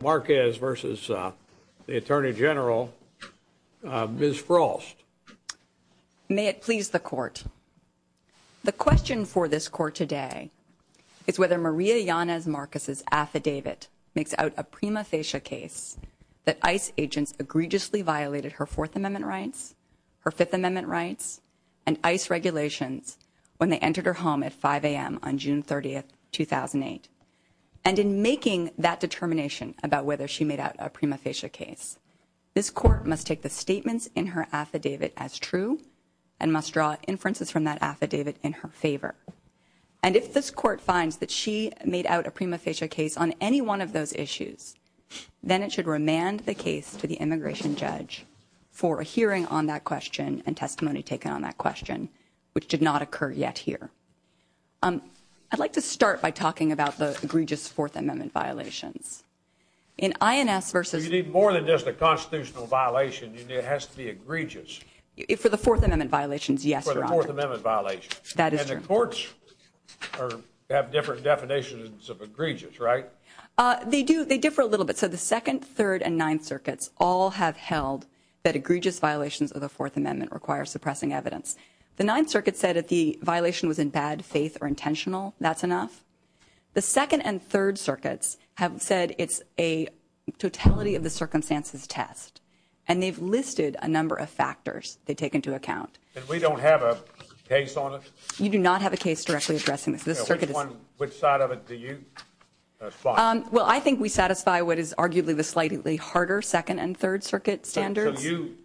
Marquez versus the Attorney General, Ms. Frost. May it please the Court, the question for this Court today is whether Maria Yanez-Marquez's affidavit makes out a prima facie case that ICE agents egregiously violated her Fourth Amendment rights, her Fifth Amendment rights, and ICE regulations when they entered her home at 5 a.m. on June 30, 2008. And in making that determination about whether she made out a prima facie case, this Court must take the statements in her affidavit as true and must draw inferences from that affidavit in her favor. And if this Court finds that she made out a prima facie case on any one of those issues, then it should remand the case to the immigration judge for a hearing on that question and testimony taken on that question, which did not occur yet here. I'd like to start by talking about the egregious Fourth Amendment violations. In INS versus... You need more than just a constitutional violation, it has to be egregious. For the Fourth Amendment violations, yes, Your Honor. For the Fourth Amendment violations. That is true. And the courts have different definitions of egregious, right? They do. They differ a little bit. So the Second, Third, and Ninth Circuits all have held that egregious violations of the Fourth Amendment require suppressing evidence. The Ninth Circuit said if the violation was in bad faith or intentional, that's enough. The Second and Third Circuits have said it's a totality of the circumstances test. And they've listed a number of factors they take into account. And we don't have a case on it? You do not have a case directly addressing this. This Circuit is... Which one, which side of it do you support? Well, I think we satisfy what is arguably the slightly harder Second and Third Circuit standards. So you...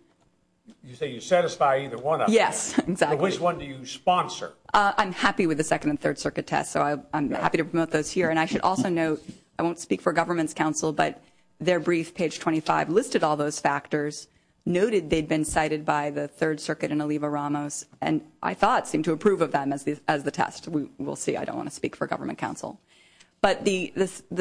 You say you satisfy either one of them? Yes. Exactly. Which one do you sponsor? I'm happy with the Second and Third Circuit test, so I'm happy to promote those here. And I should also note, I won't speak for government's counsel, but their brief, page 25, listed all those factors, noted they'd been cited by the Third Circuit and Oliva Ramos, and I thought seemed to approve of them as the test. We'll see. I don't want to speak for government counsel. But the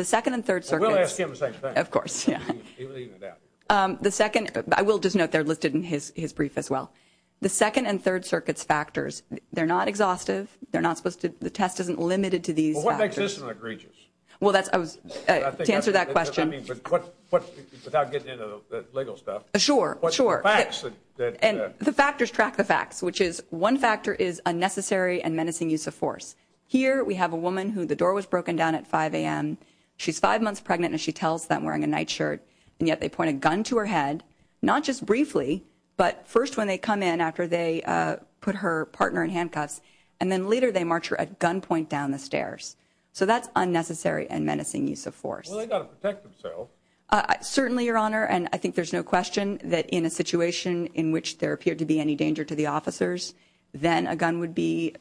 Second and Third Circuits... We'll ask him the same thing. Of course. Yeah. Evening it out. The Second... I will just note they're listed in his brief as well. The Second and Third Circuit's factors, they're not exhaustive. They're not supposed to... The test isn't limited to these factors. Well, what makes this so egregious? Well, that's... I was... I think... To answer that question... I mean, but what... Without getting into the legal stuff... Sure. Sure. But the facts that... And the factors track the facts, which is one factor is unnecessary and menacing use of force. Here, we have a woman who the door was broken down at 5 a.m. She's five months pregnant, and she tells them wearing a night shirt, and yet they point a gun to her head, not just briefly, but first when they come in after they put her partner in handcuffs, and then later they march her at gunpoint down the stairs. So that's unnecessary and menacing use of force. Well, they've got to protect themselves. Certainly, Your Honor. And I think there's no question that in a situation in which there appeared to be any danger to the officers, then a gun would be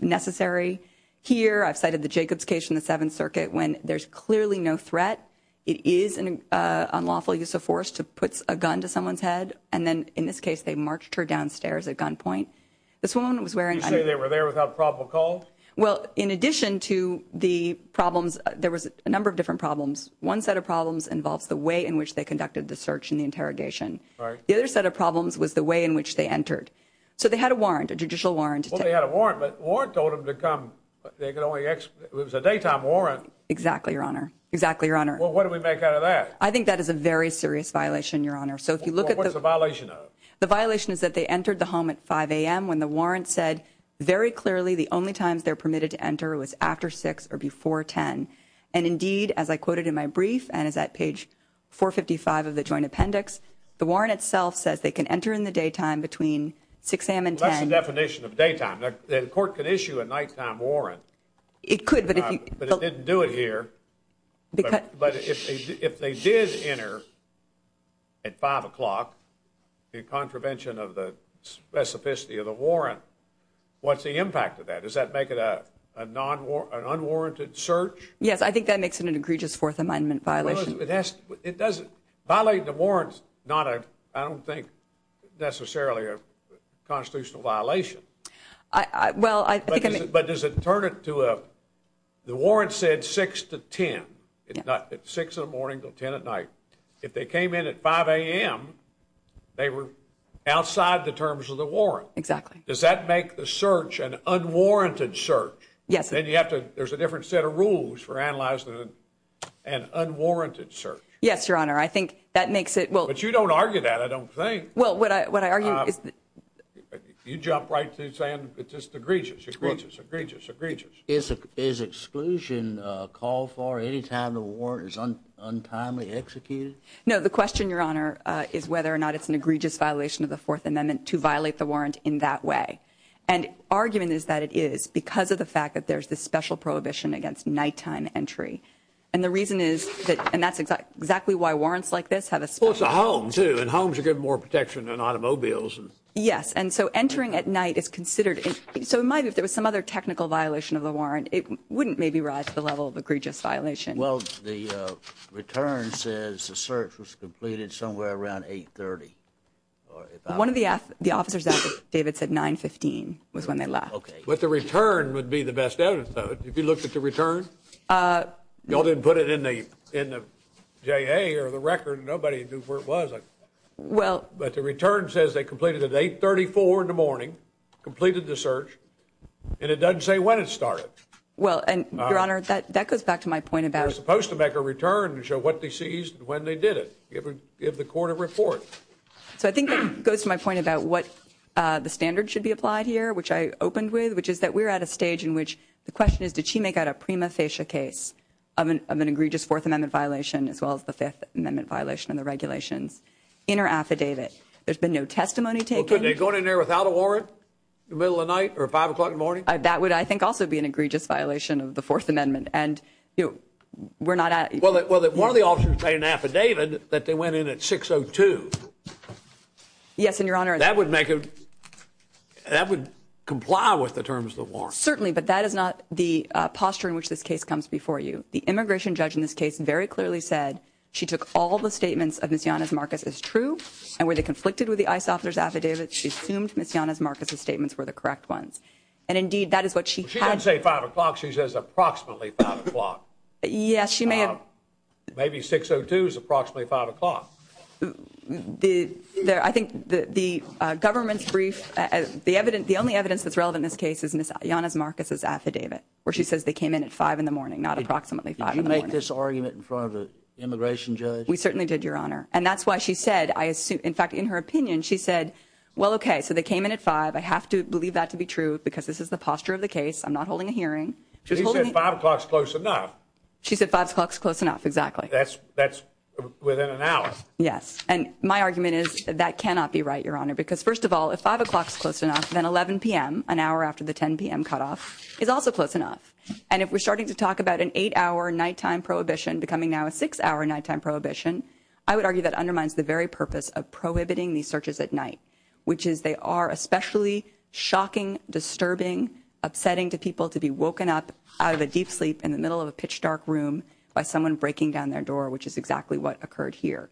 necessary. Here, I've cited the Jacobs case in the Seventh Circuit when there's clearly no threat. It is an unlawful use of force to put a gun to someone's head, and then, in this case, they marched her downstairs at gunpoint. This woman was wearing... You say they were there without probable cause? Well, in addition to the problems, there was a number of different problems. One set of problems involves the way in which they conducted the search and the interrogation. The other set of problems was the way in which they entered. So they had a warrant, a judicial warrant. Well, they had a warrant, but the warrant told them to come. They could only... It was a daytime warrant. Exactly, Your Honor. Exactly, Your Honor. Well, what do we make out of that? I think that is a very serious violation, Your Honor. So if you look at the... Well, what's the violation of? The violation is that they entered the home at 5 a.m. when the warrant said very clearly the only times they're permitted to enter was after 6 or before 10. And indeed, as I quoted in my brief, and it's at page 455 of the Joint Appendix, the warrant itself says they can enter in the daytime between 6 a.m. and 10. Well, that's the definition of daytime. The court could issue a nighttime warrant. It could, but if you... But it didn't do it here. But if they did enter at 5 o'clock, the contravention of the specificity of the warrant, what's the impact of that? Does that make it an unwarranted search? Yes, I think that makes it an egregious Fourth Amendment violation. It doesn't... Violating the warrant is not, I don't think, necessarily a constitutional violation. Well, I think... But does it turn it to a... The warrant said 6 to 10, not 6 in the morning to 10 at night. If they came in at 5 a.m., they were outside the terms of the warrant. Exactly. Does that make the search an unwarranted search? Yes. Then you have to... There's a different set of rules for analyzing an unwarranted search. Yes, Your Honor. I think that makes it... But you don't argue that, I don't think. Well, what I argue is... You jump right to saying it's just egregious, egregious, egregious, egregious. Is exclusion called for any time the warrant is untimely executed? No, the question, Your Honor, is whether or not it's an egregious violation of the Fourth Amendment to violate the warrant in that way. And argument is that it is because of the fact that there's this special prohibition against nighttime entry. And the reason is that... And that's exactly why warrants like this have a special... Well, it's a home, too. And homes are given more protection than automobiles. Yes. And so entering at night is considered... So it might be if there was some other technical violation of the warrant, it wouldn't maybe rise to the level of egregious violation. Well, the return says the search was completed somewhere around 8.30. One of the officers, David, said 9.15 was when they left. Okay. But the return would be the best evidence, though. If you looked at the return, y'all didn't put it in the J.A. or the record, nobody knew where it was. Well... But the return says they completed at 8.34 in the morning, completed the search, and it doesn't say when it started. Well, and, Your Honor, that goes back to my point about... They're supposed to make a return to show what they seized and when they did it, give the court a report. So I think that goes to my point about what the standard should be applied here, which I opened with, which is that we're at a stage in which the question is, did she make out a prima facie case of an egregious Fourth Amendment violation, as well as the Fifth Amendment affidavit? There's been no testimony taken. Well, couldn't they have gone in there without a warrant in the middle of the night or 5 o'clock in the morning? That would, I think, also be an egregious violation of the Fourth Amendment, and we're not at... Well, one of the officers made an affidavit that they went in at 6.02. Yes, and, Your Honor... That would make a... That would comply with the terms of the warrant. Certainly, but that is not the posture in which this case comes before you. The immigration judge in this case very clearly said she took all the statements of Ms. Yanez-Marquez as true, and where they conflicted with the ICE officer's affidavit, she assumed Ms. Yanez-Marquez's statements were the correct ones, and, indeed, that is what she had... She doesn't say 5 o'clock. She says approximately 5 o'clock. Yes, she may have... Maybe 6.02 is approximately 5 o'clock. I think the government's brief... The only evidence that's relevant in this case is Ms. Yanez-Marquez's affidavit, where she says they came in at 5 in the morning, not approximately 5 in the morning. Did you make this argument in front of the immigration judge? We certainly did, Your Honor. And that's why she said, I assume... In fact, in her opinion, she said, well, okay, so they came in at 5. I have to believe that to be true, because this is the posture of the case. I'm not holding a hearing. She said 5 o'clock's close enough. She said 5 o'clock's close enough, exactly. That's within an hour. Yes, and my argument is that cannot be right, Your Honor, because, first of all, if 5 o'clock's close enough, then 11 p.m., an hour after the 10 p.m. cutoff, is also close enough. And if we're starting to talk about an 8-hour nighttime prohibition becoming now a 6-hour nighttime prohibition, I would argue that undermines the very purpose of prohibiting these searches at night, which is they are especially shocking, disturbing, upsetting to people to be woken up out of a deep sleep in the middle of a pitch-dark room by someone breaking down their door, which is exactly what occurred here.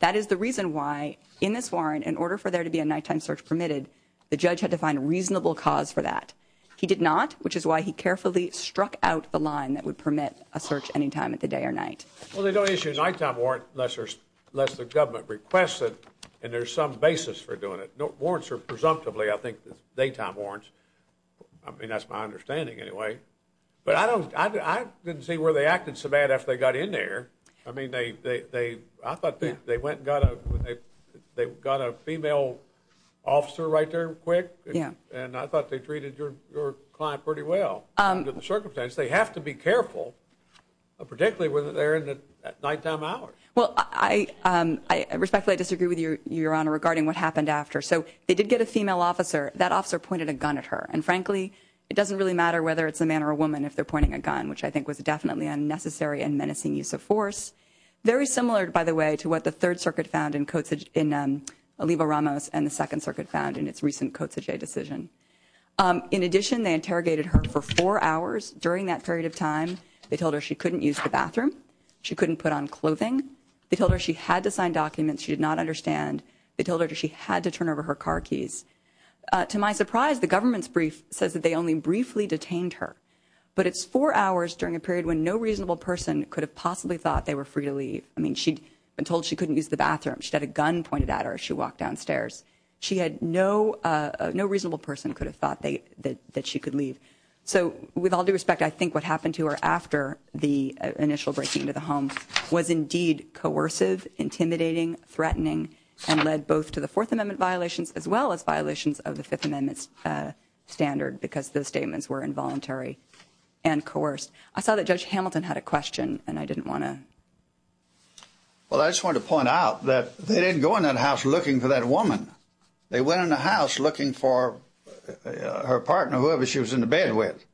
That is the reason why, in this warrant, in order for there to be a nighttime search permitted, the judge had to find a reasonable cause for that. He did not, which is why he carefully struck out the line that would permit a search anytime at the day or night. Well, they don't issue a nighttime warrant unless the government requests it, and there's some basis for doing it. Warrants are presumptively, I think, daytime warrants. I mean, that's my understanding, anyway. But I didn't see where they acted so bad after they got in there. I mean, I thought they went and got a female officer right there quick, and I thought they treated your client pretty well under the circumstances. They have to be careful, particularly when they're in the nighttime hours. Well, respectfully, I disagree with Your Honor regarding what happened after. So they did get a female officer. That officer pointed a gun at her, and frankly, it doesn't really matter whether it's a man or a woman if they're pointing a gun, which I think was definitely a necessary and menacing use of force. Very similar, by the way, to what the Third Circuit found in Oliva Ramos and the Second Circuit found in its recent Kotzege decision. In addition, they interrogated her for four hours during that period of time. They told her she couldn't use the bathroom. She couldn't put on clothing. They told her she had to sign documents she did not understand. They told her she had to turn over her car keys. To my surprise, the government's brief says that they only briefly detained her. But it's four hours during a period when no reasonable person could have possibly thought they were free to leave. I mean, she'd been told she couldn't use the bathroom. She'd had a gun pointed at her as she walked downstairs. She had no, no reasonable person could have thought that she could leave. So with all due respect, I think what happened to her after the initial breaking into the home was indeed coercive, intimidating, threatening, and led both to the Fourth Amendment violations as well as violations of the Fifth Amendment's standard because those statements were involuntary and coerced. I saw that Judge Hamilton had a question, and I didn't want to. Well, I just want to point out that they didn't go in that house looking for that woman. They went in the house looking for her partner, whoever she was in the bed with.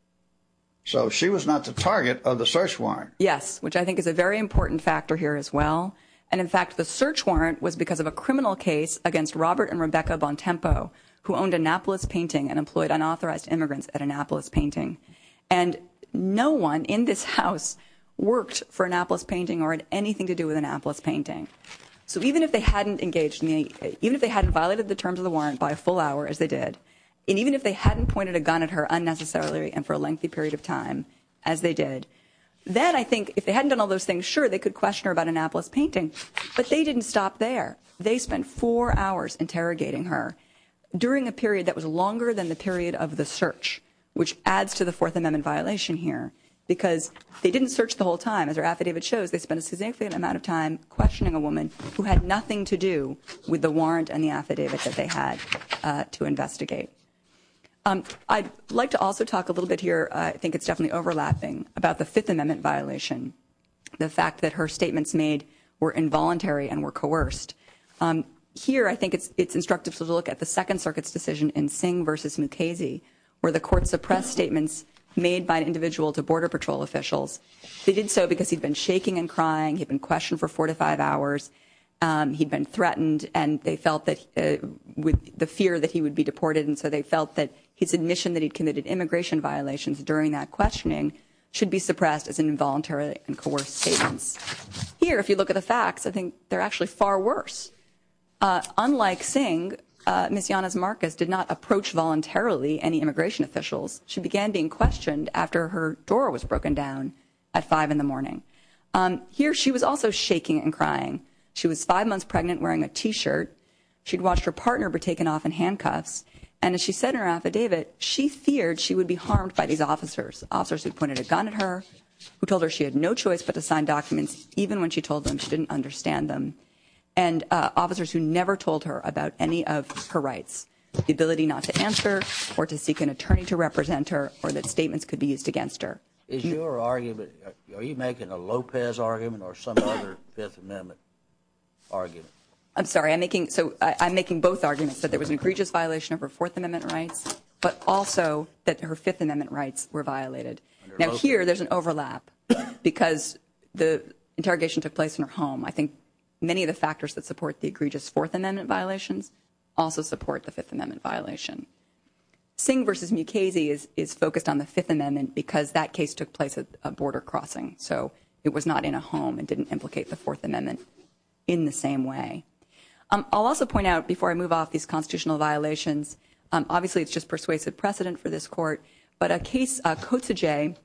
So she was not the target of the search warrant. Yes, which I think is a very important factor here as well. And in fact, the search warrant was because of a criminal case against Robert and Rebecca Bontempo, who owned Annapolis Painting and employed unauthorized immigrants at Annapolis Painting. And no one in this house worked for Annapolis Painting or had anything to do with Annapolis Painting. So even if they hadn't engaged, even if they hadn't violated the terms of the warrant by a full hour, as they did, and even if they hadn't pointed a gun at her unnecessarily and for a lengthy period of time, as they did, then I think if they hadn't done all those things, sure, they could question her about Annapolis Painting, but they didn't stop there. They spent four hours interrogating her during a period that was longer than the period of the search, which adds to the Fourth Amendment violation here, because they didn't search the whole time. As her affidavit shows, they spent a significant amount of time questioning a woman who had nothing to do with the warrant and the affidavit that they had to investigate. I'd like to also talk a little bit here, I think it's definitely overlapping, about the Fifth Amendment violation, the fact that her statements made were involuntary and were coerced. Here, I think it's instructive to look at the Second Circuit's decision in Singh v. Mukasey, where the court suppressed statements made by an individual to Border Patrol officials. They did so because he'd been shaking and crying, he'd been questioned for four to five hours, he'd been threatened, and they felt that, with the fear that he would be deported, and so they felt that his admission that he'd committed immigration violations during that questioning should be suppressed as an involuntary and coerced statement. Here, if you look at the facts, I think they're actually far worse. Unlike Singh, Ms. Yanez-Marcus did not approach voluntarily any immigration officials. She began being questioned after her door was broken down at five in the morning. Here, she was also shaking and crying. She was five months pregnant, wearing a T-shirt. She'd watched her partner be taken off in handcuffs, and as she said in her affidavit, she feared she would be harmed by these officers, officers who pointed a gun at her, who told her she had no choice but to sign documents, even when she told them she didn't understand them. And officers who never told her about any of her rights, the ability not to answer or to seek an attorney to represent her, or that statements could be used against her. Is your argument, are you making a Lopez argument or some other Fifth Amendment argument? I'm sorry, I'm making, so I'm making both arguments, that there was an egregious violation of her Fourth Amendment rights, but also that her Fifth Amendment rights were violated. Now, here, there's an overlap, because the interrogation took place in her home. I think many of the factors that support the egregious Fourth Amendment violations also support the Fifth Amendment violation. Singh v. Mukasey is focused on the Fifth Amendment, because that case took place at a border crossing, so it was not in a home. It didn't implicate the Fourth Amendment in the same way. I'll also point out, before I move off these constitutional violations, obviously it's just persuasive precedent for this Court, but a case, Kotzege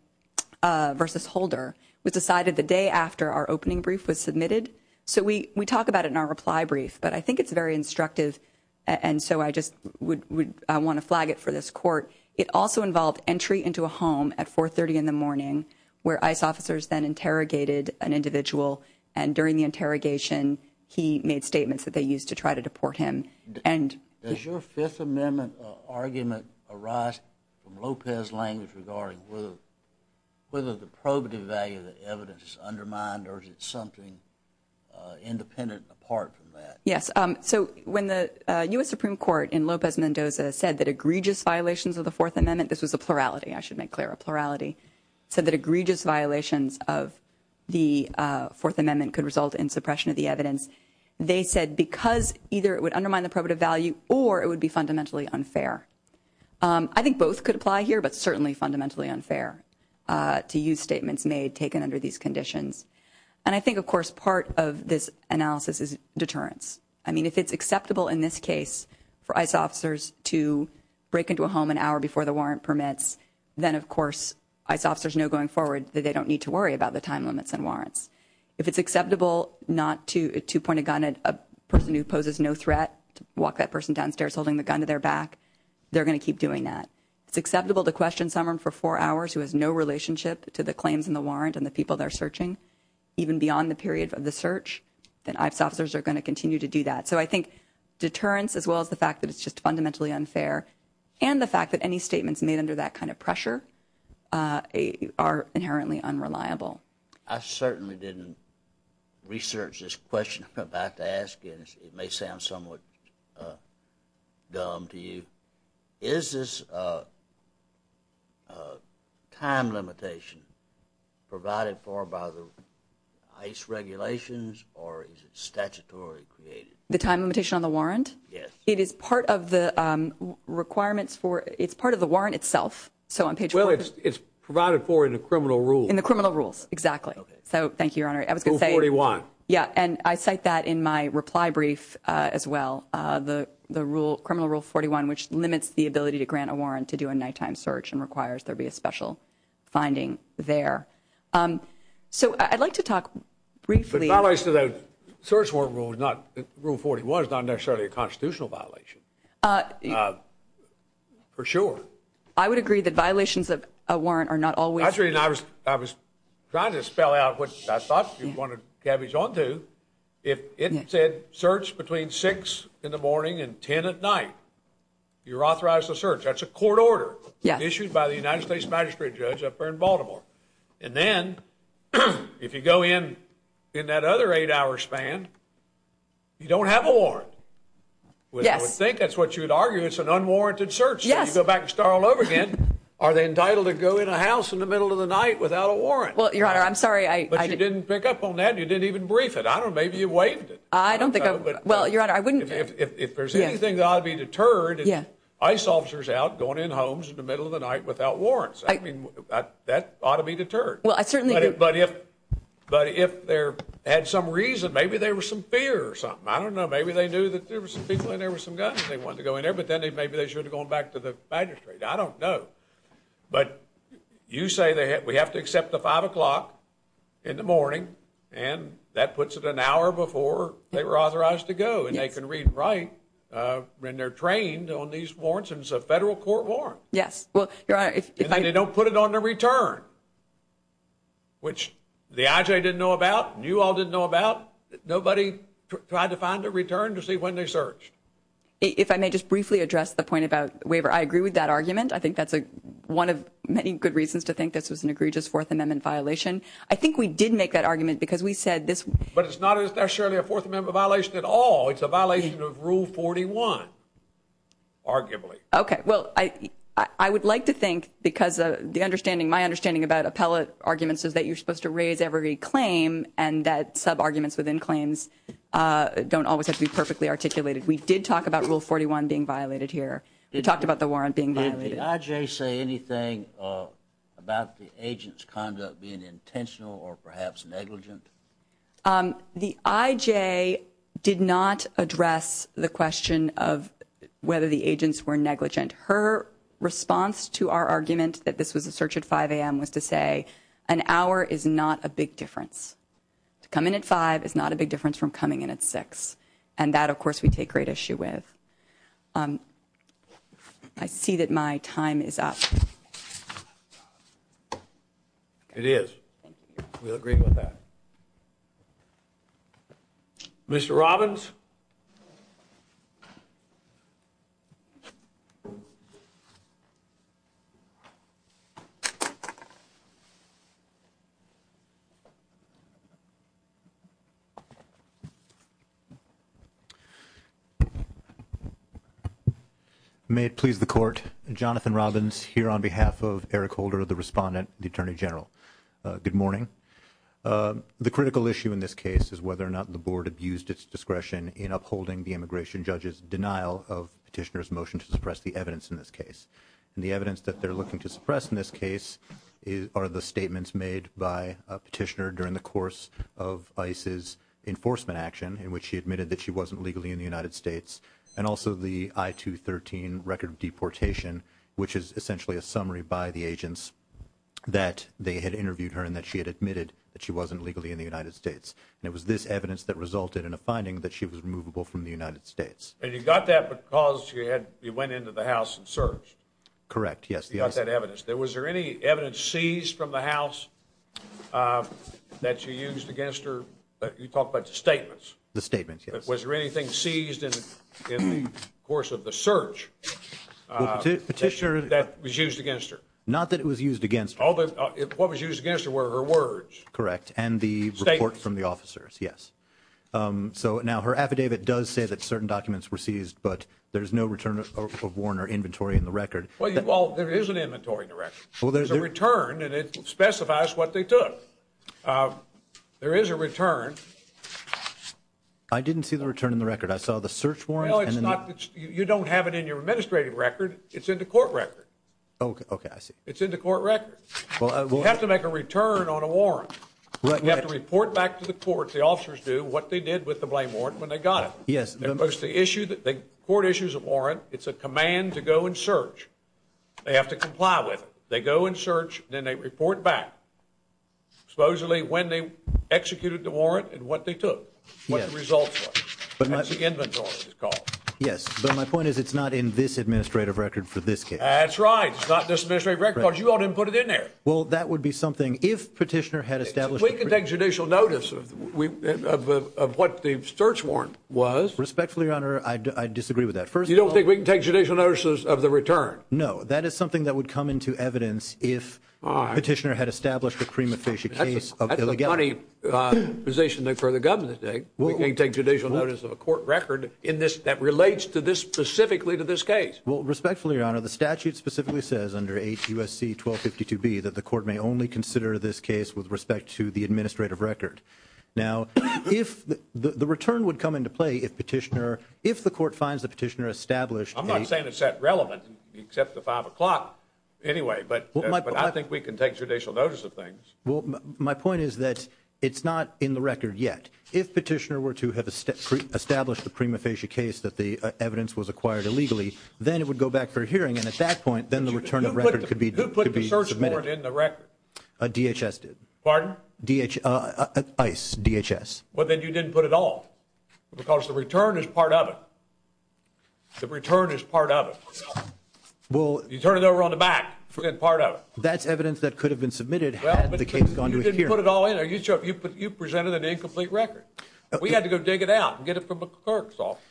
v. Holder, was decided the day after our opening brief was submitted, so we talk about it in our reply brief, but I think it's very instructive, and so I just would, I want to flag it for this Court. It also involved entry into a home at 4.30 in the morning, where ICE officers then interrogated an individual, and during the interrogation, he made statements that they used to try to deport him. And... Does your Fifth Amendment argument arise from Lopez's language regarding whether the probative value of the evidence is undermined, or is it something independent and apart from that? Yes. So, when the U.S. Supreme Court, in Lopez-Mendoza, said that egregious violations of the Fourth Amendment, this was a plurality, I should make clear, a plurality, said that egregious violations of the Fourth Amendment could result in suppression of the evidence, they said because either it would undermine the probative value, or it would be fundamentally unfair. I think both could apply here, but certainly fundamentally unfair to use statements made, taken under these conditions. And I think, of course, part of this analysis is deterrence. I mean, if it's acceptable in this case for ICE officers to break into a home an hour before the warrant permits, then, of course, ICE officers know going forward that they don't need to worry about the time limits and warrants. If it's acceptable not to point a gun at a person who poses no threat, to walk that they're going to keep doing that. If it's acceptable to question someone for four hours who has no relationship to the claims in the warrant and the people they're searching, even beyond the period of the search, then ICE officers are going to continue to do that. So I think deterrence, as well as the fact that it's just fundamentally unfair, and the fact that any statements made under that kind of pressure are inherently unreliable. I certainly didn't research this question I'm about to ask, and it may sound somewhat dumb to you. Is this time limitation provided for by the ICE regulations, or is it statutorily created? The time limitation on the warrant? Yes. It is part of the requirements for, it's part of the warrant itself. So on page 14. Well, it's provided for in the criminal rules. In the criminal rules, exactly. So, thank you, Your Honor. I was going to say. Rule 41. Yeah, and I cite that in my reply brief as well, the rule, criminal rule 41, which limits the ability to grant a warrant to do a nighttime search and requires there be a special finding there. So I'd like to talk briefly. The violation of the search warrant rule is not, rule 41, is not necessarily a constitutional violation, for sure. I would agree that violations of a warrant are not always. I was trying to spell out what I thought you'd want to cabbage on to. If it said search between 6 in the morning and 10 at night, you're authorized to search. That's a court order issued by the United States magistrate judge up there in Baltimore. And then, if you go in, in that other eight hour span, you don't have a warrant. Yes. I would think that's what you'd argue. It's an unwarranted search. Yes. I would go back and start all over again. Are they entitled to go in a house in the middle of the night without a warrant? Well, Your Honor, I'm sorry. But you didn't pick up on that and you didn't even brief it. I don't know. Maybe you waived it. I don't think I would. Well, Your Honor, I wouldn't. If there's anything that ought to be deterred, it's ICE officers out going in homes in the middle of the night without warrants. That ought to be deterred. Well, I certainly do. But if, but if there had some reason, maybe there was some fear or something. I don't know. Maybe they knew that there were some people in there with some guns and they wanted to go in there. But then maybe they should have gone back to the magistrate. I don't know. But you say we have to accept the 5 o'clock in the morning and that puts it an hour before they were authorized to go. Yes. And they can read and write when they're trained on these warrants and it's a federal court warrant. Yes. Well, Your Honor, if I... And they don't put it on the return, which the IJ didn't know about and you all didn't know about. Nobody tried to find a return to see when they searched. If I may just briefly address the point about waiver. I agree with that argument. I think that's one of many good reasons to think this was an egregious Fourth Amendment violation. I think we did make that argument because we said this... But it's not necessarily a Fourth Amendment violation at all. It's a violation of Rule 41, arguably. Okay. Well, I would like to think, because the understanding, my understanding about appellate arguments is that you're supposed to raise every claim and that sub-arguments within claims don't always have to be perfectly articulated. We did talk about Rule 41 being violated here. We talked about the warrant being violated. Did the IJ say anything about the agent's conduct being intentional or perhaps negligent? The IJ did not address the question of whether the agents were negligent. Her response to our argument that this was a search at 5 a.m. was to say an hour is not a big difference. To come in at 5 is not a big difference from coming in at 6. And that, of course, we take great issue with. I see that my time is up. It is. We'll agree with that. Mr. Robbins? May it please the Court, Jonathan Robbins here on behalf of Eric Holder, the Respondent, the Attorney General. Good morning. The critical issue in this case is whether or not the Board abused its discretion in upholding the immigration judge's denial of Petitioner's motion to suppress the evidence in this case. And the evidence that they're looking to suppress in this case are the statements made by Petitioner during the course of ICE's enforcement action, in which she admitted that she wasn't legally in the United States, and also the I-213 record of deportation, which is essentially a summary by the agents that they had interviewed her and that she had admitted that she wasn't legally in the United States. And it was this evidence that resulted in a finding that she was removable from the United States. And you got that because you went into the House and searched? Correct, yes. You got that evidence. Was there any evidence seized from the House that you used against her? You talked about the statements. The statements, yes. Was there anything seized in the course of the search that was used against her? Not that it was used against her. What was used against her were her words. Correct, and the report from the officers, yes. So now, her affidavit does say that certain documents were seized, but there's no return of warrant or inventory in the record. Well, there is an inventory in the record. There's a return, and it specifies what they took. There is a return. I didn't see the return in the record. I saw the search warrant. Well, it's not, you don't have it in your administrative record. It's in the court record. Oh, okay, I see. It's in the court record. You have to make a return on a warrant. You have to report back to the court, the officers do, what they did with the blame warrant when they got it. Yes. They report issues of warrant. It's a command to go and search. They have to comply with it. They go and search, then they report back, supposedly, when they executed the warrant and what they took, what the results were. Yes. That's the inventory, it's called. Yes, but my point is, it's not in this administrative record for this case. That's right. It's not in this administrative record, because you all didn't put it in there. Well, that would be something, if Petitioner had established- We can take judicial notice of what the search warrant was. Respectfully, Your Honor, I disagree with that. First of all- You don't think we can take judicial notices of the return? No. That is something that would come into evidence if Petitioner had established a prima facie case of illegality. That's a funny position for the government to take. We can't take judicial notice of a court record that relates specifically to this case. Well, respectfully, Your Honor, the statute specifically says, under 8 U.S.C. 1252b, that the court may only consider this case with respect to the administrative record. Now, if the return would come into play if Petitioner, if the court finds that Petitioner established a- I'm not saying it's that relevant, except the 5 o'clock, anyway, but I think we can take judicial notice of things. My point is that it's not in the record yet. If Petitioner were to have established a prima facie case that the evidence was acquired illegally, then it would go back for a hearing, and at that point, then the return of record could be submitted. Well, you didn't put it in the record. DHS did. Pardon? DHS. ICE. DHS. Well, then you didn't put it all, because the return is part of it. The return is part of it. Well- You turn it over on the back, and part of it. That's evidence that could have been submitted had the case gone to a hearing. Well, but you didn't put it all in. Are you sure? You presented an incomplete record. We had to go dig it out and get it from the clerk's office.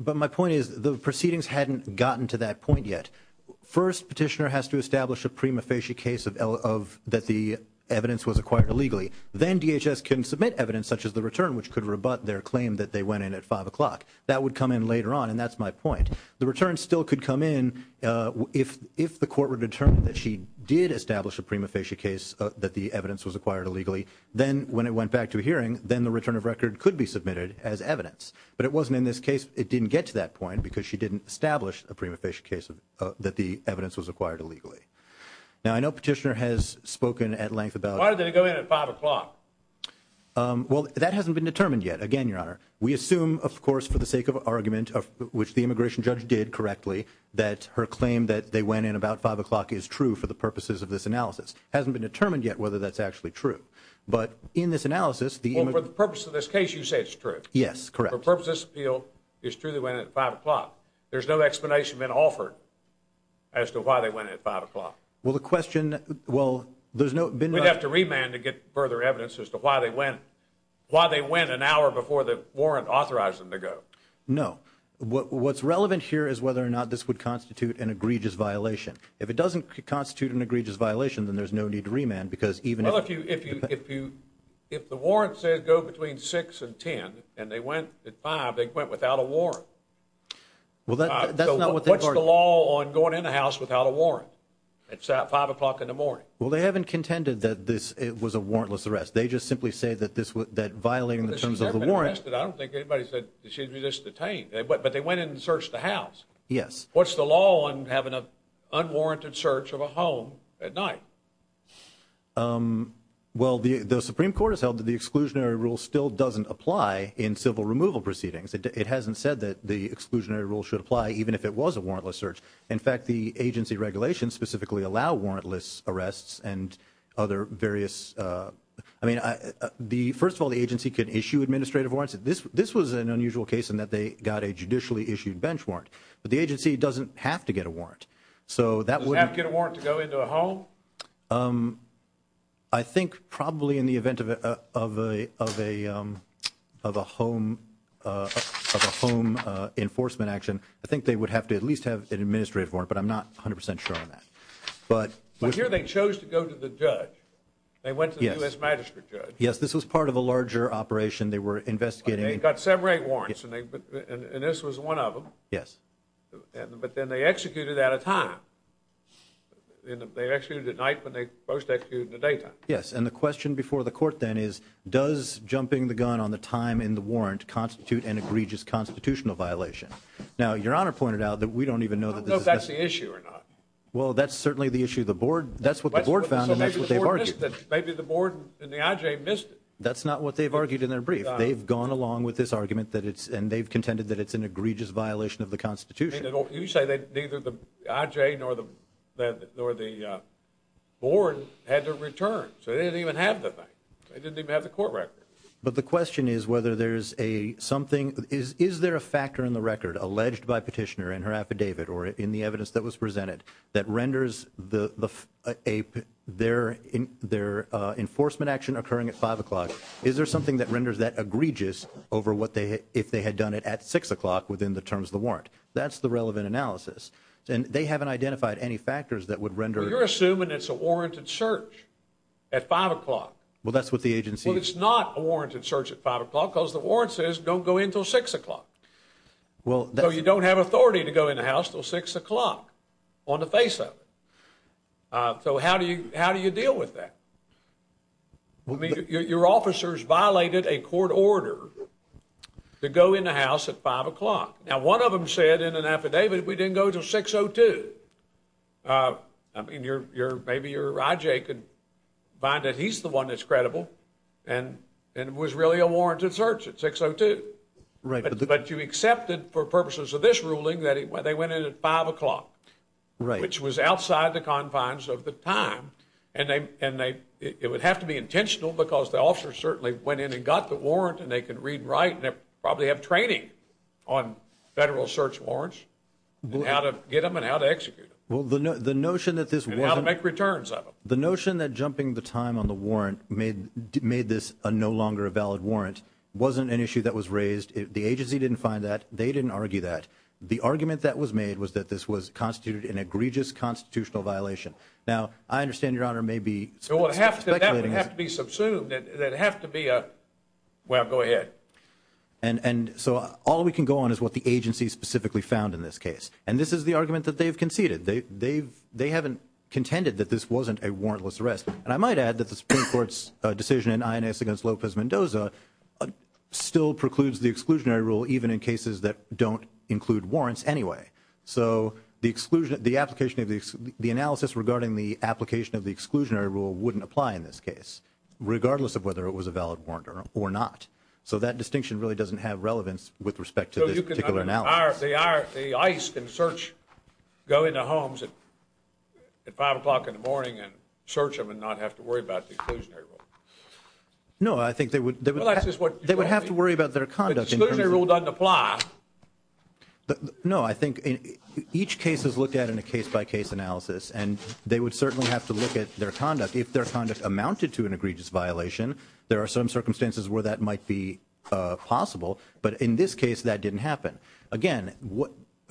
But my point is, the proceedings hadn't gotten to that point yet. First, Petitioner has to establish a prima facie case that the evidence was acquired illegally. Then DHS can submit evidence such as the return, which could rebut their claim that they went in at 5 o'clock. That would come in later on, and that's my point. The return still could come in if the court were to determine that she did establish a prima facie case that the evidence was acquired illegally, then when it went back to a hearing, then the return of record could be submitted as evidence. But it wasn't in this case. It didn't get to that point because she didn't establish a prima facie case that the evidence was acquired illegally. Now, I know Petitioner has spoken at length about- Why did they go in at 5 o'clock? Well, that hasn't been determined yet. Again, Your Honor, we assume, of course, for the sake of argument, which the immigration judge did correctly, that her claim that they went in about 5 o'clock is true for the purposes of this analysis. It hasn't been determined yet whether that's actually true. But in this analysis- Well, for the purpose of this case, you say it's true. Yes, correct. For the purpose of this appeal, it's true they went in at 5 o'clock. There's no explanation been offered as to why they went in at 5 o'clock. Well, the question- We'd have to remand to get further evidence as to why they went an hour before the warrant authorized them to go. No. What's relevant here is whether or not this would constitute an egregious violation. If it doesn't constitute an egregious violation, then there's no need to remand because even- If the warrant says go between 6 and 10, and they went at 5, they went without a warrant. Well, that's not what they- So what's the law on going in a house without a warrant at 5 o'clock in the morning? Well, they haven't contended that this was a warrantless arrest. They just simply say that violating the terms of the warrant- I don't think anybody said that she'd be just detained. But they went in and searched the house. Yes. What's the law on having an unwarranted search of a home at night? Well, the Supreme Court has held that the exclusionary rule still doesn't apply in civil removal proceedings. It hasn't said that the exclusionary rule should apply even if it was a warrantless search. In fact, the agency regulations specifically allow warrantless arrests and other various- I mean, first of all, the agency could issue administrative warrants. This was an unusual case in that they got a judicially issued bench warrant. But the agency doesn't have to get a warrant. So that would- They didn't have to go into a home? I think probably in the event of a home enforcement action, I think they would have to at least have an administrative warrant, but I'm not 100% sure on that. But here they chose to go to the judge. They went to the U.S. Magistrate Judge. Yes, this was part of a larger operation. They were investigating- They got separate warrants, and this was one of them. Yes. But then they executed it at a time. They executed it at night, but they most executed it at daytime. Yes. And the question before the court then is, does jumping the gun on the time in the warrant constitute an egregious constitutional violation? Now, Your Honor pointed out that we don't even know that this is- I don't know if that's the issue or not. Well, that's certainly the issue. That's what the board found, and that's what they've argued. So maybe the board missed it. Maybe the board and the IJ missed it. That's not what they've argued in their brief. They've gone along with this argument, and they've contended that it's an egregious violation of the Constitution. You say that neither the IJ nor the board had to return, so they didn't even have the thing. They didn't even have the court record. But the question is whether there's a something- is there a factor in the record alleged by Petitioner in her affidavit or in the evidence that was presented that renders their enforcement action occurring at 5 o'clock, is there something that renders that egregious over what they- Well, they've done it at 6 o'clock within the terms of the warrant. That's the relevant analysis. And they haven't identified any factors that would render- You're assuming it's a warranted search at 5 o'clock. Well, that's what the agency- Well, it's not a warranted search at 5 o'clock because the warrant says don't go in until 6 o'clock. Well- So you don't have authority to go in the house until 6 o'clock on the face of it. So how do you deal with that? I mean, your officers violated a court order to go in the house at 5 o'clock. Now one of them said in an affidavit we didn't go until 6 o'clock. I mean, maybe your I.J. could find that he's the one that's credible and it was really a warranted search at 6 o'clock. But you accepted for purposes of this ruling that they went in at 5 o'clock, which was It would have to be intentional because the officers certainly went in and got the warrant and they could read and write and probably have training on federal search warrants and how to get them and how to execute them. The notion that this wasn't- And how to make returns of them. The notion that jumping the time on the warrant made this no longer a valid warrant wasn't an issue that was raised. The agency didn't find that. They didn't argue that. The argument that was made was that this was constituted an egregious constitutional violation. Now I understand, Your Honor, maybe- That would have to be subsumed. That'd have to be a- well, go ahead. And so all we can go on is what the agency specifically found in this case. And this is the argument that they've conceded. They haven't contended that this wasn't a warrantless arrest. And I might add that the Supreme Court's decision in Inez against Lopez Mendoza still precludes the exclusionary rule even in cases that don't include warrants anyway. So the application of the- the analysis regarding the application of the exclusionary rule wouldn't apply in this case, regardless of whether it was a valid warrant or not. So that distinction really doesn't have relevance with respect to this particular analysis. The ICE can search- go into homes at five o'clock in the morning and search them and not have to worry about the exclusionary rule. No, I think they would- Well, that's just what- They would have to worry about their conduct. But the exclusionary rule doesn't apply. No, I think each case is looked at in a case-by-case analysis. And they would certainly have to look at their conduct. If their conduct amounted to an egregious violation, there are some circumstances where that might be possible. But in this case, that didn't happen. Again,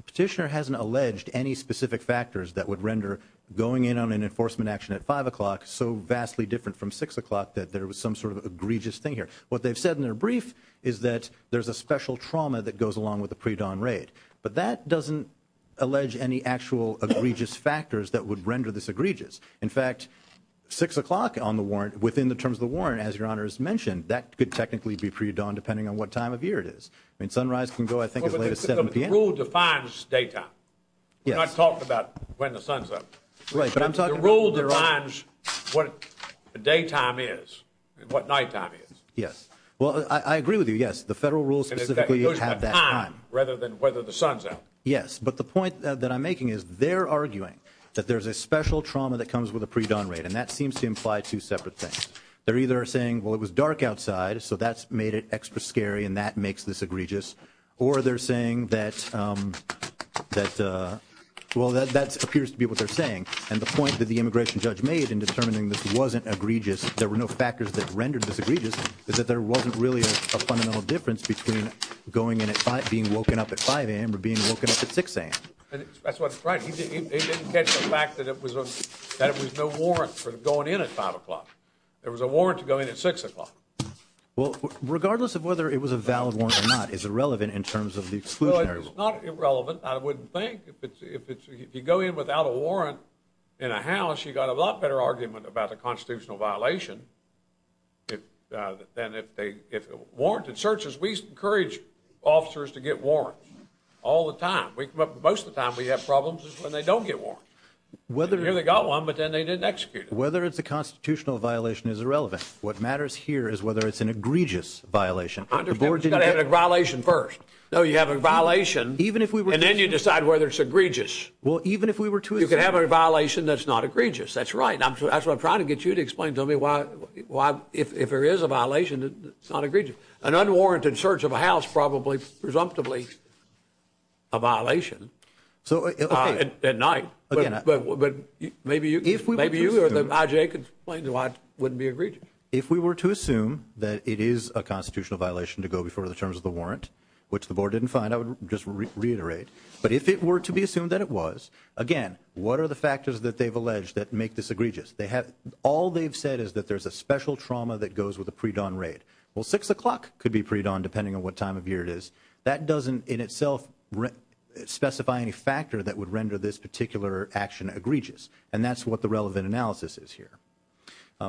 petitioner hasn't alleged any specific factors that would render going in on an enforcement action at five o'clock so vastly different from six o'clock that there was some sort of egregious thing here. What they've said in their brief is that there's a special trauma that goes along with the pre-dawn raid. But that doesn't allege any actual egregious factors that would render this egregious. In fact, six o'clock on the warrant- within the terms of the warrant, as Your Honor has mentioned, that could technically be pre-dawn depending on what time of year it is. I mean, sunrise can go, I think, as late as 7 p.m. But the rule defines daytime. Yes. We're not talking about when the sun's up. Right. But I'm talking about- The rule defines what the daytime is and what nighttime is. Yes. Well, I agree with you. Yes. The federal rules specifically have that time. It goes by time rather than whether the sun's up. Yes. But the point that I'm making is they're arguing that there's a special trauma that comes with a pre-dawn raid. And that seems to imply two separate things. They're either saying, well, it was dark outside, so that's made it extra scary and that makes this egregious. Or they're saying that, well, that appears to be what they're saying. And the point that the immigration judge made in determining this wasn't egregious, there were no factors that rendered this egregious, is that there wasn't really a fundamental difference between going in at 5- being woken up at 5 a.m. or being woken up at 6 a.m. That's what- Right. He didn't catch the fact that it was a- that it was no warrant for going in at 5 o'clock. There was a warrant to go in at 6 o'clock. Well, regardless of whether it was a valid warrant or not, it's irrelevant in terms of the exclusionary- Well, it's not irrelevant, I wouldn't think. If it's- if you go in without a warrant in a house, you've got a lot better argument about a constitutional violation than if they- if a warranted search is- we encourage officers to get warrants all the time. Most of the time we have problems when they don't get warrants. Whether- Here they got one, but then they didn't execute it. Whether it's a constitutional violation is irrelevant. What matters here is whether it's an egregious violation. The board didn't- It's got to have a violation first. No, you have a violation- Even if we were to- And then you decide whether it's egregious. Well, even if we were to- You can have a violation that's not egregious, that's right. That's what I'm trying to get you to explain to me why- if there is a violation that's not egregious. An unwarranted search of a house probably, presumptively, a violation at night, but maybe you- If we were to- Maybe you or the IJ could explain why it wouldn't be egregious. If we were to assume that it is a constitutional violation to go before the terms of the warrant, which the board didn't find, I would just reiterate, but if it were to be assumed that it was, again, what are the factors that they've alleged that make this egregious? All they've said is that there's a special trauma that goes with a pre-dawn raid. Well, six o'clock could be pre-dawn, depending on what time of year it is. That doesn't, in itself, specify any factor that would render this particular action egregious, and that's what the relevant analysis is here.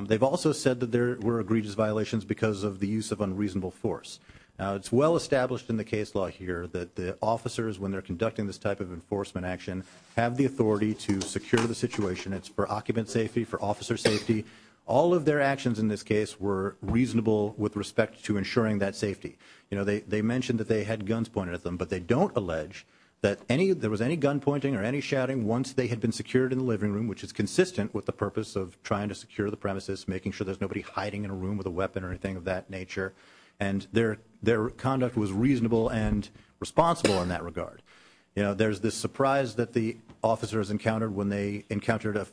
They've also said that there were egregious violations because of the use of unreasonable force. Now, it's well established in the case law here that the officers, when they're conducting this type of enforcement action, have the authority to secure the situation. It's for occupant safety, for officer safety. All of their actions in this case were reasonable with respect to ensuring that safety. You know, they mentioned that they had guns pointed at them, but they don't allege that there was any gun pointing or any shouting once they had been secured in the living room, which is consistent with the purpose of trying to secure the premises, making sure there's nobody hiding in a room with a weapon or anything of that nature, and their conduct was reasonable and responsible in that regard. You know, there's this surprise that the officers encountered when they encountered a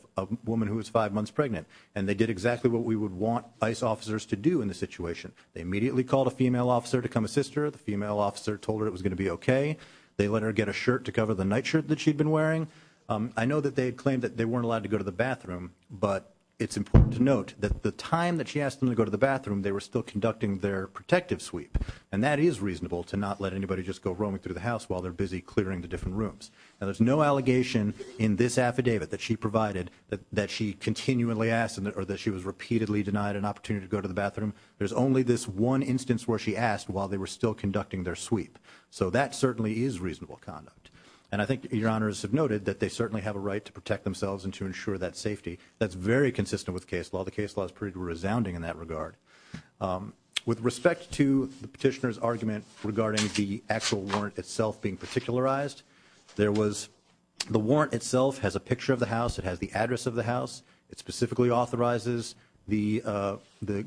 woman who was five months pregnant, and they did exactly what we would want ICE officers to do in this situation. They immediately called a female officer to come assist her. The female officer told her it was going to be okay. They let her get a shirt to cover the nightshirt that she'd been wearing. I know that they had claimed that they weren't allowed to go to the bathroom, but it's important to note that the time that she asked them to go to the bathroom, they were still conducting their protective sweep, and that is reasonable to not let anybody just go roaming through the house while they're busy clearing the different rooms. Now, there's no allegation in this affidavit that she provided that she continually asked or that she was repeatedly denied an opportunity to go to the bathroom. There's only this one instance where she asked while they were still conducting their sweep, so that certainly is reasonable conduct, and I think Your Honors have noted that they certainly have a right to protect themselves and to ensure that safety. That's very consistent with case law. All the case laws proved resounding in that regard. With respect to the petitioner's argument regarding the actual warrant itself being particularized, the warrant itself has a picture of the house. It has the address of the house. It specifically authorizes the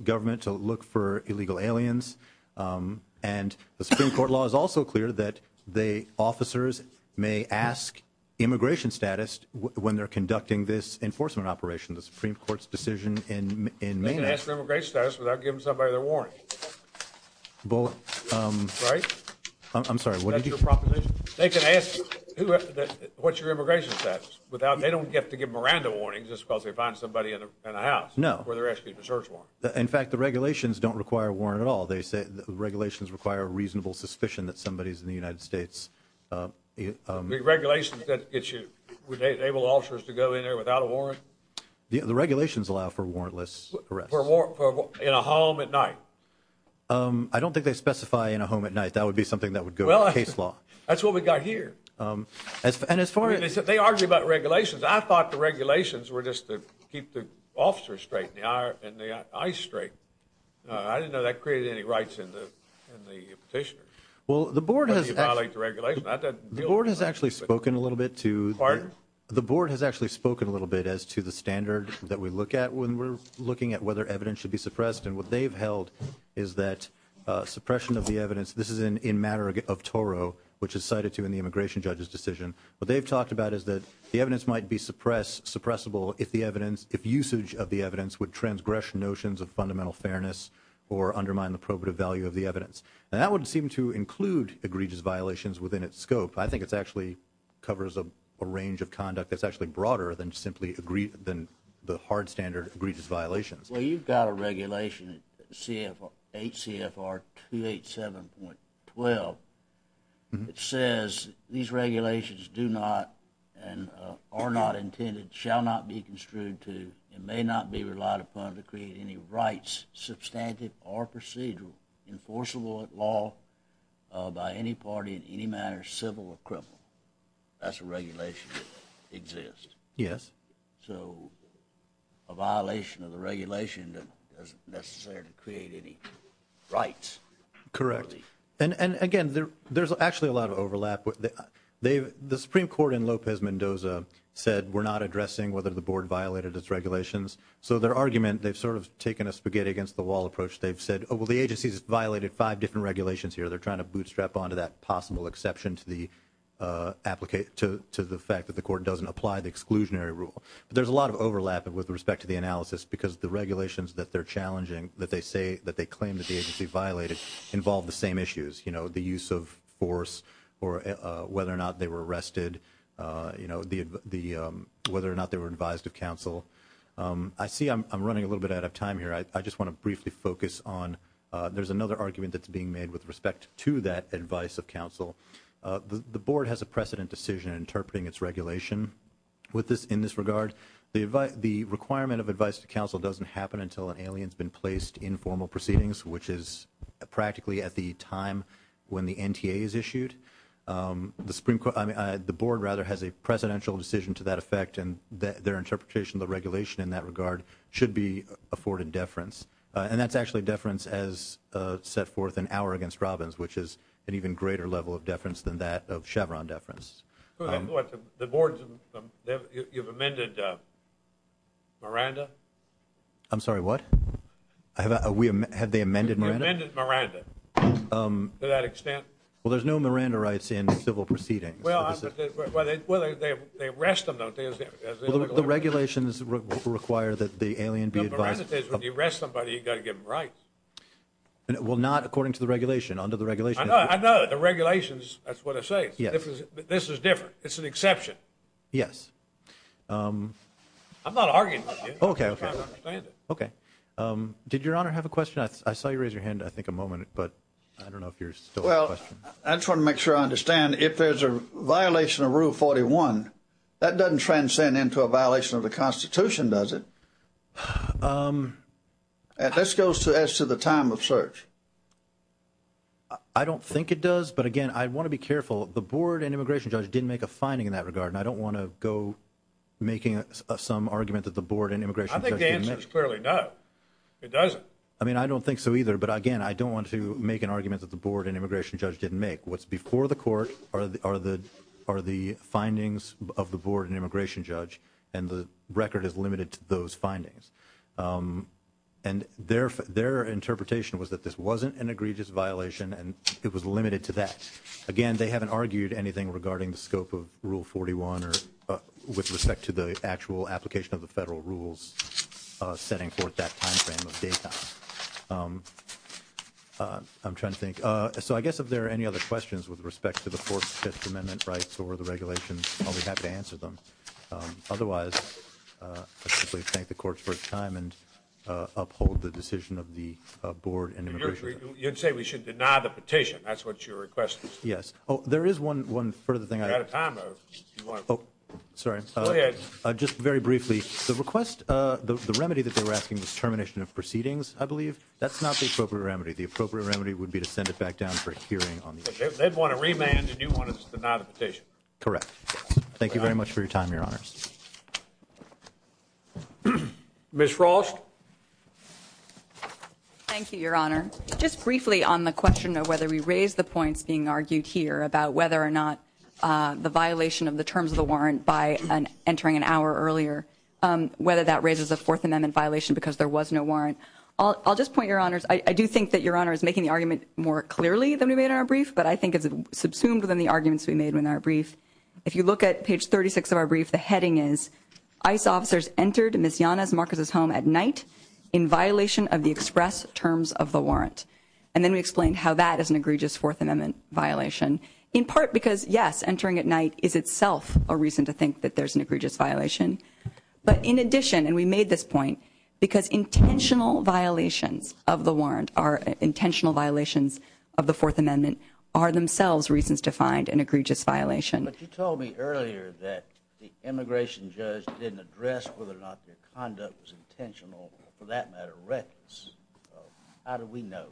government to look for illegal aliens, and the Supreme Court law is also clear that the officers may ask immigration status when they're conducting this enforcement operation, the Supreme Court's decision in May 19th. They can ask for immigration status without giving somebody their warrant, right? I'm sorry, what did you say? That's your proposition? They can ask who – what's your immigration status without – they don't have to give Miranda warnings just because they find somebody in a house where they're asking for a search warrant. No. In fact, the regulations don't require a warrant at all. They say – the regulations require a reasonable suspicion that somebody is in the United States – The regulations that get you – would enable officers to go in there without a warrant? The regulations allow for warrantless arrests. For – in a home at night? I don't think they specify in a home at night. That would be something that would go into case law. Well, that's what we've got here. And as far as – They argue about regulations. I thought the regulations were just to keep the officers straight and the ICE straight. I didn't know that created any rights in the petitioner. Well, the board has – But you violate the regulations. The board has actually spoken a little bit to – The partners? The board has actually spoken a little bit as to the standard that we look at when we're looking at whether evidence should be suppressed, and what they've held is that suppression of the evidence – This is in matter of Toro, which is cited to in the immigration judge's decision. What they've talked about is that the evidence might be suppressed – suppressible if the evidence – if usage of the evidence would transgress notions of fundamental fairness or undermine the probative value of the evidence. And that would seem to include egregious violations within its scope. I think it actually covers a range of conduct that's actually broader than simply – than the hard standard of egregious violations. Well, you've got a regulation, 8 CFR 287.12, that says these regulations do not and are not intended, shall not be construed to, and may not be relied upon to create any rights substantive or procedural, enforceable at law by any party in any manner, civil or criminal. That's a regulation that exists. Yes. So a violation of the regulation doesn't necessarily create any rights. Correct. And, again, there's actually a lot of overlap. The Supreme Court in Lopez Mendoza said we're not addressing whether the board violated its regulations. So their argument – they've sort of taken a spaghetti-against-the-wall approach. They've said, oh, well, the agency's violated five different regulations here. They're trying to bootstrap onto that possible exception to the fact that the court doesn't apply the exclusionary rule. But there's a lot of overlap with respect to the analysis because the regulations that they're challenging, that they say – that they claim that the agency violated, involve the same issues – you know, the use of force or whether or not they were arrested, you I see I'm running a little bit out of time here. I just want to briefly focus on – there's another argument that's being made with respect to that advice of counsel. The board has a precedent decision interpreting its regulation in this regard. The requirement of advice to counsel doesn't happen until an alien's been placed in formal proceedings, which is practically at the time when the NTA is issued. The Supreme – I mean, the board, rather, has a precedential decision to that effect, and their interpretation of the regulation in that regard should be afforded deference. And that's actually deference as set forth in our against Robbins, which is an even greater level of deference than that of Chevron deference. What? The board's – you've amended Miranda? I'm sorry, what? Have they amended Miranda? You've amended Miranda to that extent? Well, there's no Miranda rights in civil proceedings. Well, they arrest them, don't they, as they – The regulations require that the alien be advised – No, but Miranda says when you arrest somebody, you've got to give them rights. Well, not according to the regulation. Under the regulation – I know. I know. The regulations, that's what it says. Yes. This is different. It's an exception. Yes. I'm not arguing with you. Okay, okay. I'm trying to understand it. Okay. Did Your Honor have a question? I saw you raise your hand, I think, a moment, but I don't know if you're still questioning. I just want to make sure I understand. If there's a violation of Rule 41, that doesn't transcend into a violation of the Constitution, does it? This goes as to the time of search. I don't think it does, but again, I want to be careful. The board and immigration judge didn't make a finding in that regard, and I don't want to go making some argument that the board and immigration judge didn't make. I think the answer is clearly no. It doesn't. I mean, I don't think so either, but again, I don't want to make an argument that the board and immigration judge didn't make. What's before the court are the findings of the board and immigration judge, and the record is limited to those findings. And their interpretation was that this wasn't an egregious violation, and it was limited to that. Again, they haven't argued anything regarding the scope of Rule 41 with respect to the actual application of the federal rules setting forth that timeframe of date time. I'm trying to think. So I guess if there are any other questions with respect to the fourth, fifth amendment rights or the regulations, I'll be happy to answer them. Otherwise, I'd simply thank the courts for their time and uphold the decision of the board and immigration judge. You'd say we should deny the petition. That's what your request is. Yes. Oh, there is one further thing. We're out of time. Oh, sorry. Go ahead. Just very briefly, the request, the remedy that they were asking was termination of proceedings, I believe. That's not the appropriate remedy. The appropriate remedy would be to send it back down for a hearing on the issue. They'd want to remand, and you want to deny the petition. Correct. Thank you very much for your time, Your Honors. Ms. Frost? Thank you, Your Honor. Just briefly on the question of whether we raise the points being argued here about whether or not the violation of the terms of the warrant by entering an hour earlier, whether that I'll just point, Your Honors, I do think that Your Honor is making the argument more clearly than we made in our brief, but I think it's subsumed within the arguments we made in our brief. If you look at page 36 of our brief, the heading is, ICE officers entered Ms. Yanez-Marquez's home at night in violation of the express terms of the warrant. And then we explained how that is an egregious Fourth Amendment violation, in part because yes, entering at night is itself a reason to think that there's an egregious violation. But in addition, and we made this point, because intentional violations of the warrant are intentional violations of the Fourth Amendment, are themselves reasons to find an egregious violation. But you told me earlier that the immigration judge didn't address whether or not their conduct was intentional, or for that matter reckless. How do we know?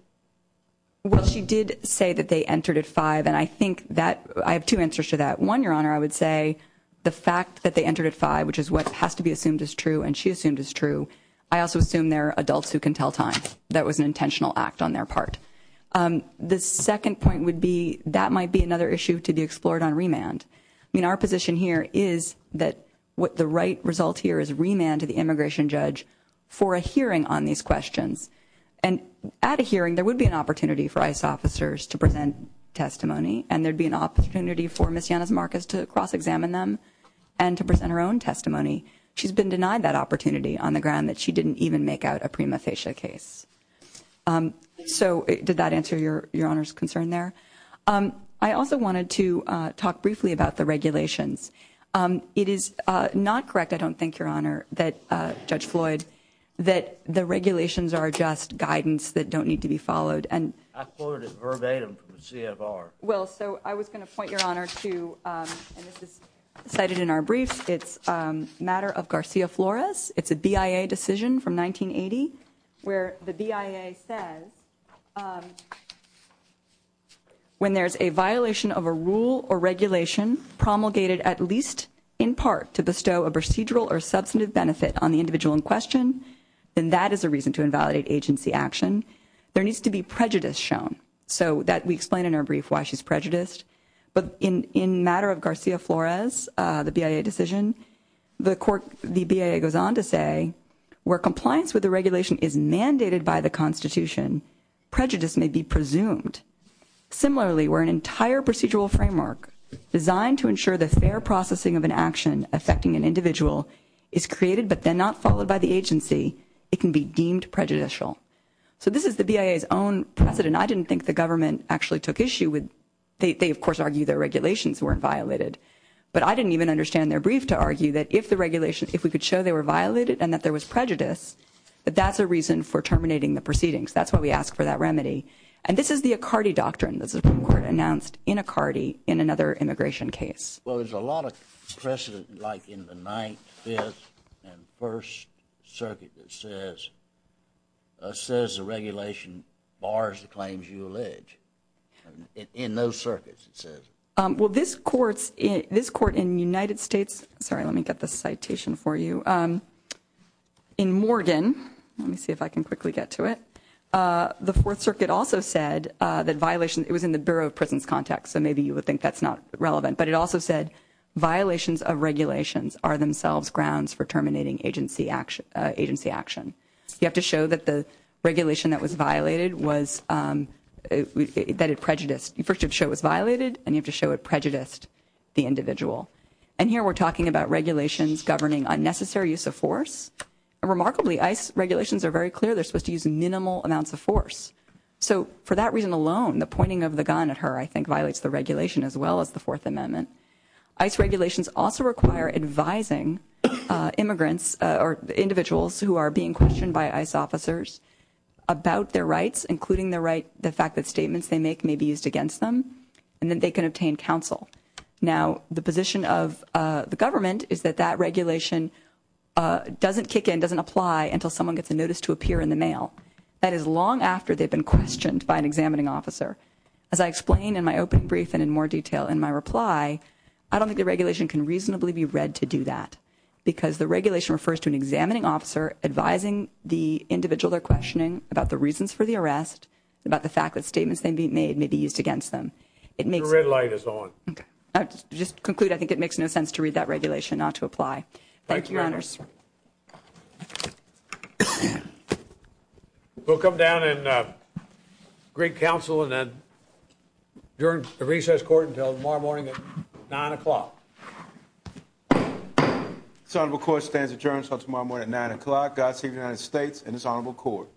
Well, she did say that they entered at 5, and I think that, I have two answers to that. One, Your Honor, I would say the fact that they entered at 5, which is what has to be assumed is true, and she assumed is true, I also assume they're adults who can tell time. That was an intentional act on their part. The second point would be, that might be another issue to be explored on remand. I mean, our position here is that what the right result here is remand to the immigration judge for a hearing on these questions. And at a hearing, there would be an opportunity for ICE officers to present testimony, and there would be an opportunity for Ms. Yanez-Marcus to cross-examine them and to present her own testimony. She's been denied that opportunity on the ground that she didn't even make out a prima facie case. So, did that answer Your Honor's concern there? I also wanted to talk briefly about the regulations. It is not correct, I don't think, Your Honor, that Judge Floyd, that the regulations are just guidance that don't need to be followed. I quoted it verbatim from the CFR. Well, so I was going to point, Your Honor, to, and this is cited in our briefs, it's a matter of Garcia-Flores. It's a BIA decision from 1980, where the BIA says, when there's a violation of a rule or regulation promulgated at least in part to bestow a procedural or substantive benefit on the individual in question, then that is a reason to invalidate agency action. There needs to be prejudice shown, so that we explain in our brief why she's prejudiced. But in matter of Garcia-Flores, the BIA decision, the BIA goes on to say, where compliance with the regulation is mandated by the Constitution, prejudice may be presumed. Similarly, where an entire procedural framework designed to ensure the fair processing of an action affecting an individual is created but then not followed by the agency, it can be deemed prejudicial. So this is the BIA's own precedent. I didn't think the government actually took issue with, they of course argue their regulations weren't violated. But I didn't even understand their brief to argue that if the regulation, if we could show they were violated and that there was prejudice, that that's a reason for terminating the proceedings. That's why we ask for that remedy. And this is the Accardi Doctrine, the Supreme Court announced in Accardi in another immigration case. Well, there's a lot of precedent like in the Ninth, Fifth, and First Circuit that says the regulation bars the claims you allege. In those circuits, it says. Well, this court in United States, sorry, let me get this citation for you. In Morgan, let me see if I can quickly get to it, the Fourth Circuit also said that violation, it was in the Bureau of Prisons context, so maybe you would think that's not relevant. But it also said violations of regulations are themselves grounds for terminating agency action. You have to show that the regulation that was violated was, that it prejudiced, you first have to show it was violated and you have to show it prejudiced the individual. And here we're talking about regulations governing unnecessary use of force. And remarkably, ICE regulations are very clear, they're supposed to use minimal amounts of force. So for that reason alone, the pointing of the gun at her I think violates the regulation as well as the Fourth Amendment. ICE regulations also require advising immigrants or individuals who are being questioned by ICE officers about their rights, including the fact that statements they make may be used against them and that they can obtain counsel. Now, the position of the government is that that regulation doesn't kick in, doesn't apply until someone gets a notice to appear in the mail. That is long after they've been questioned by an examining officer. As I explained in my open brief and in more detail in my reply, I don't think the regulation can reasonably be read to do that. Because the regulation refers to an examining officer advising the individual they're questioning about the reasons for the arrest, about the fact that statements they made may be used against them. It makes... The red light is on. Okay. Just to conclude, I think it makes no sense to read that regulation not to apply. Thank you, Your Honors. Thank you. We'll come down and greet counsel and adjourn the recess court until tomorrow morning at 9 o'clock. This honorable court stands adjourned until tomorrow morning at 9 o'clock. God save the United States and this honorable court.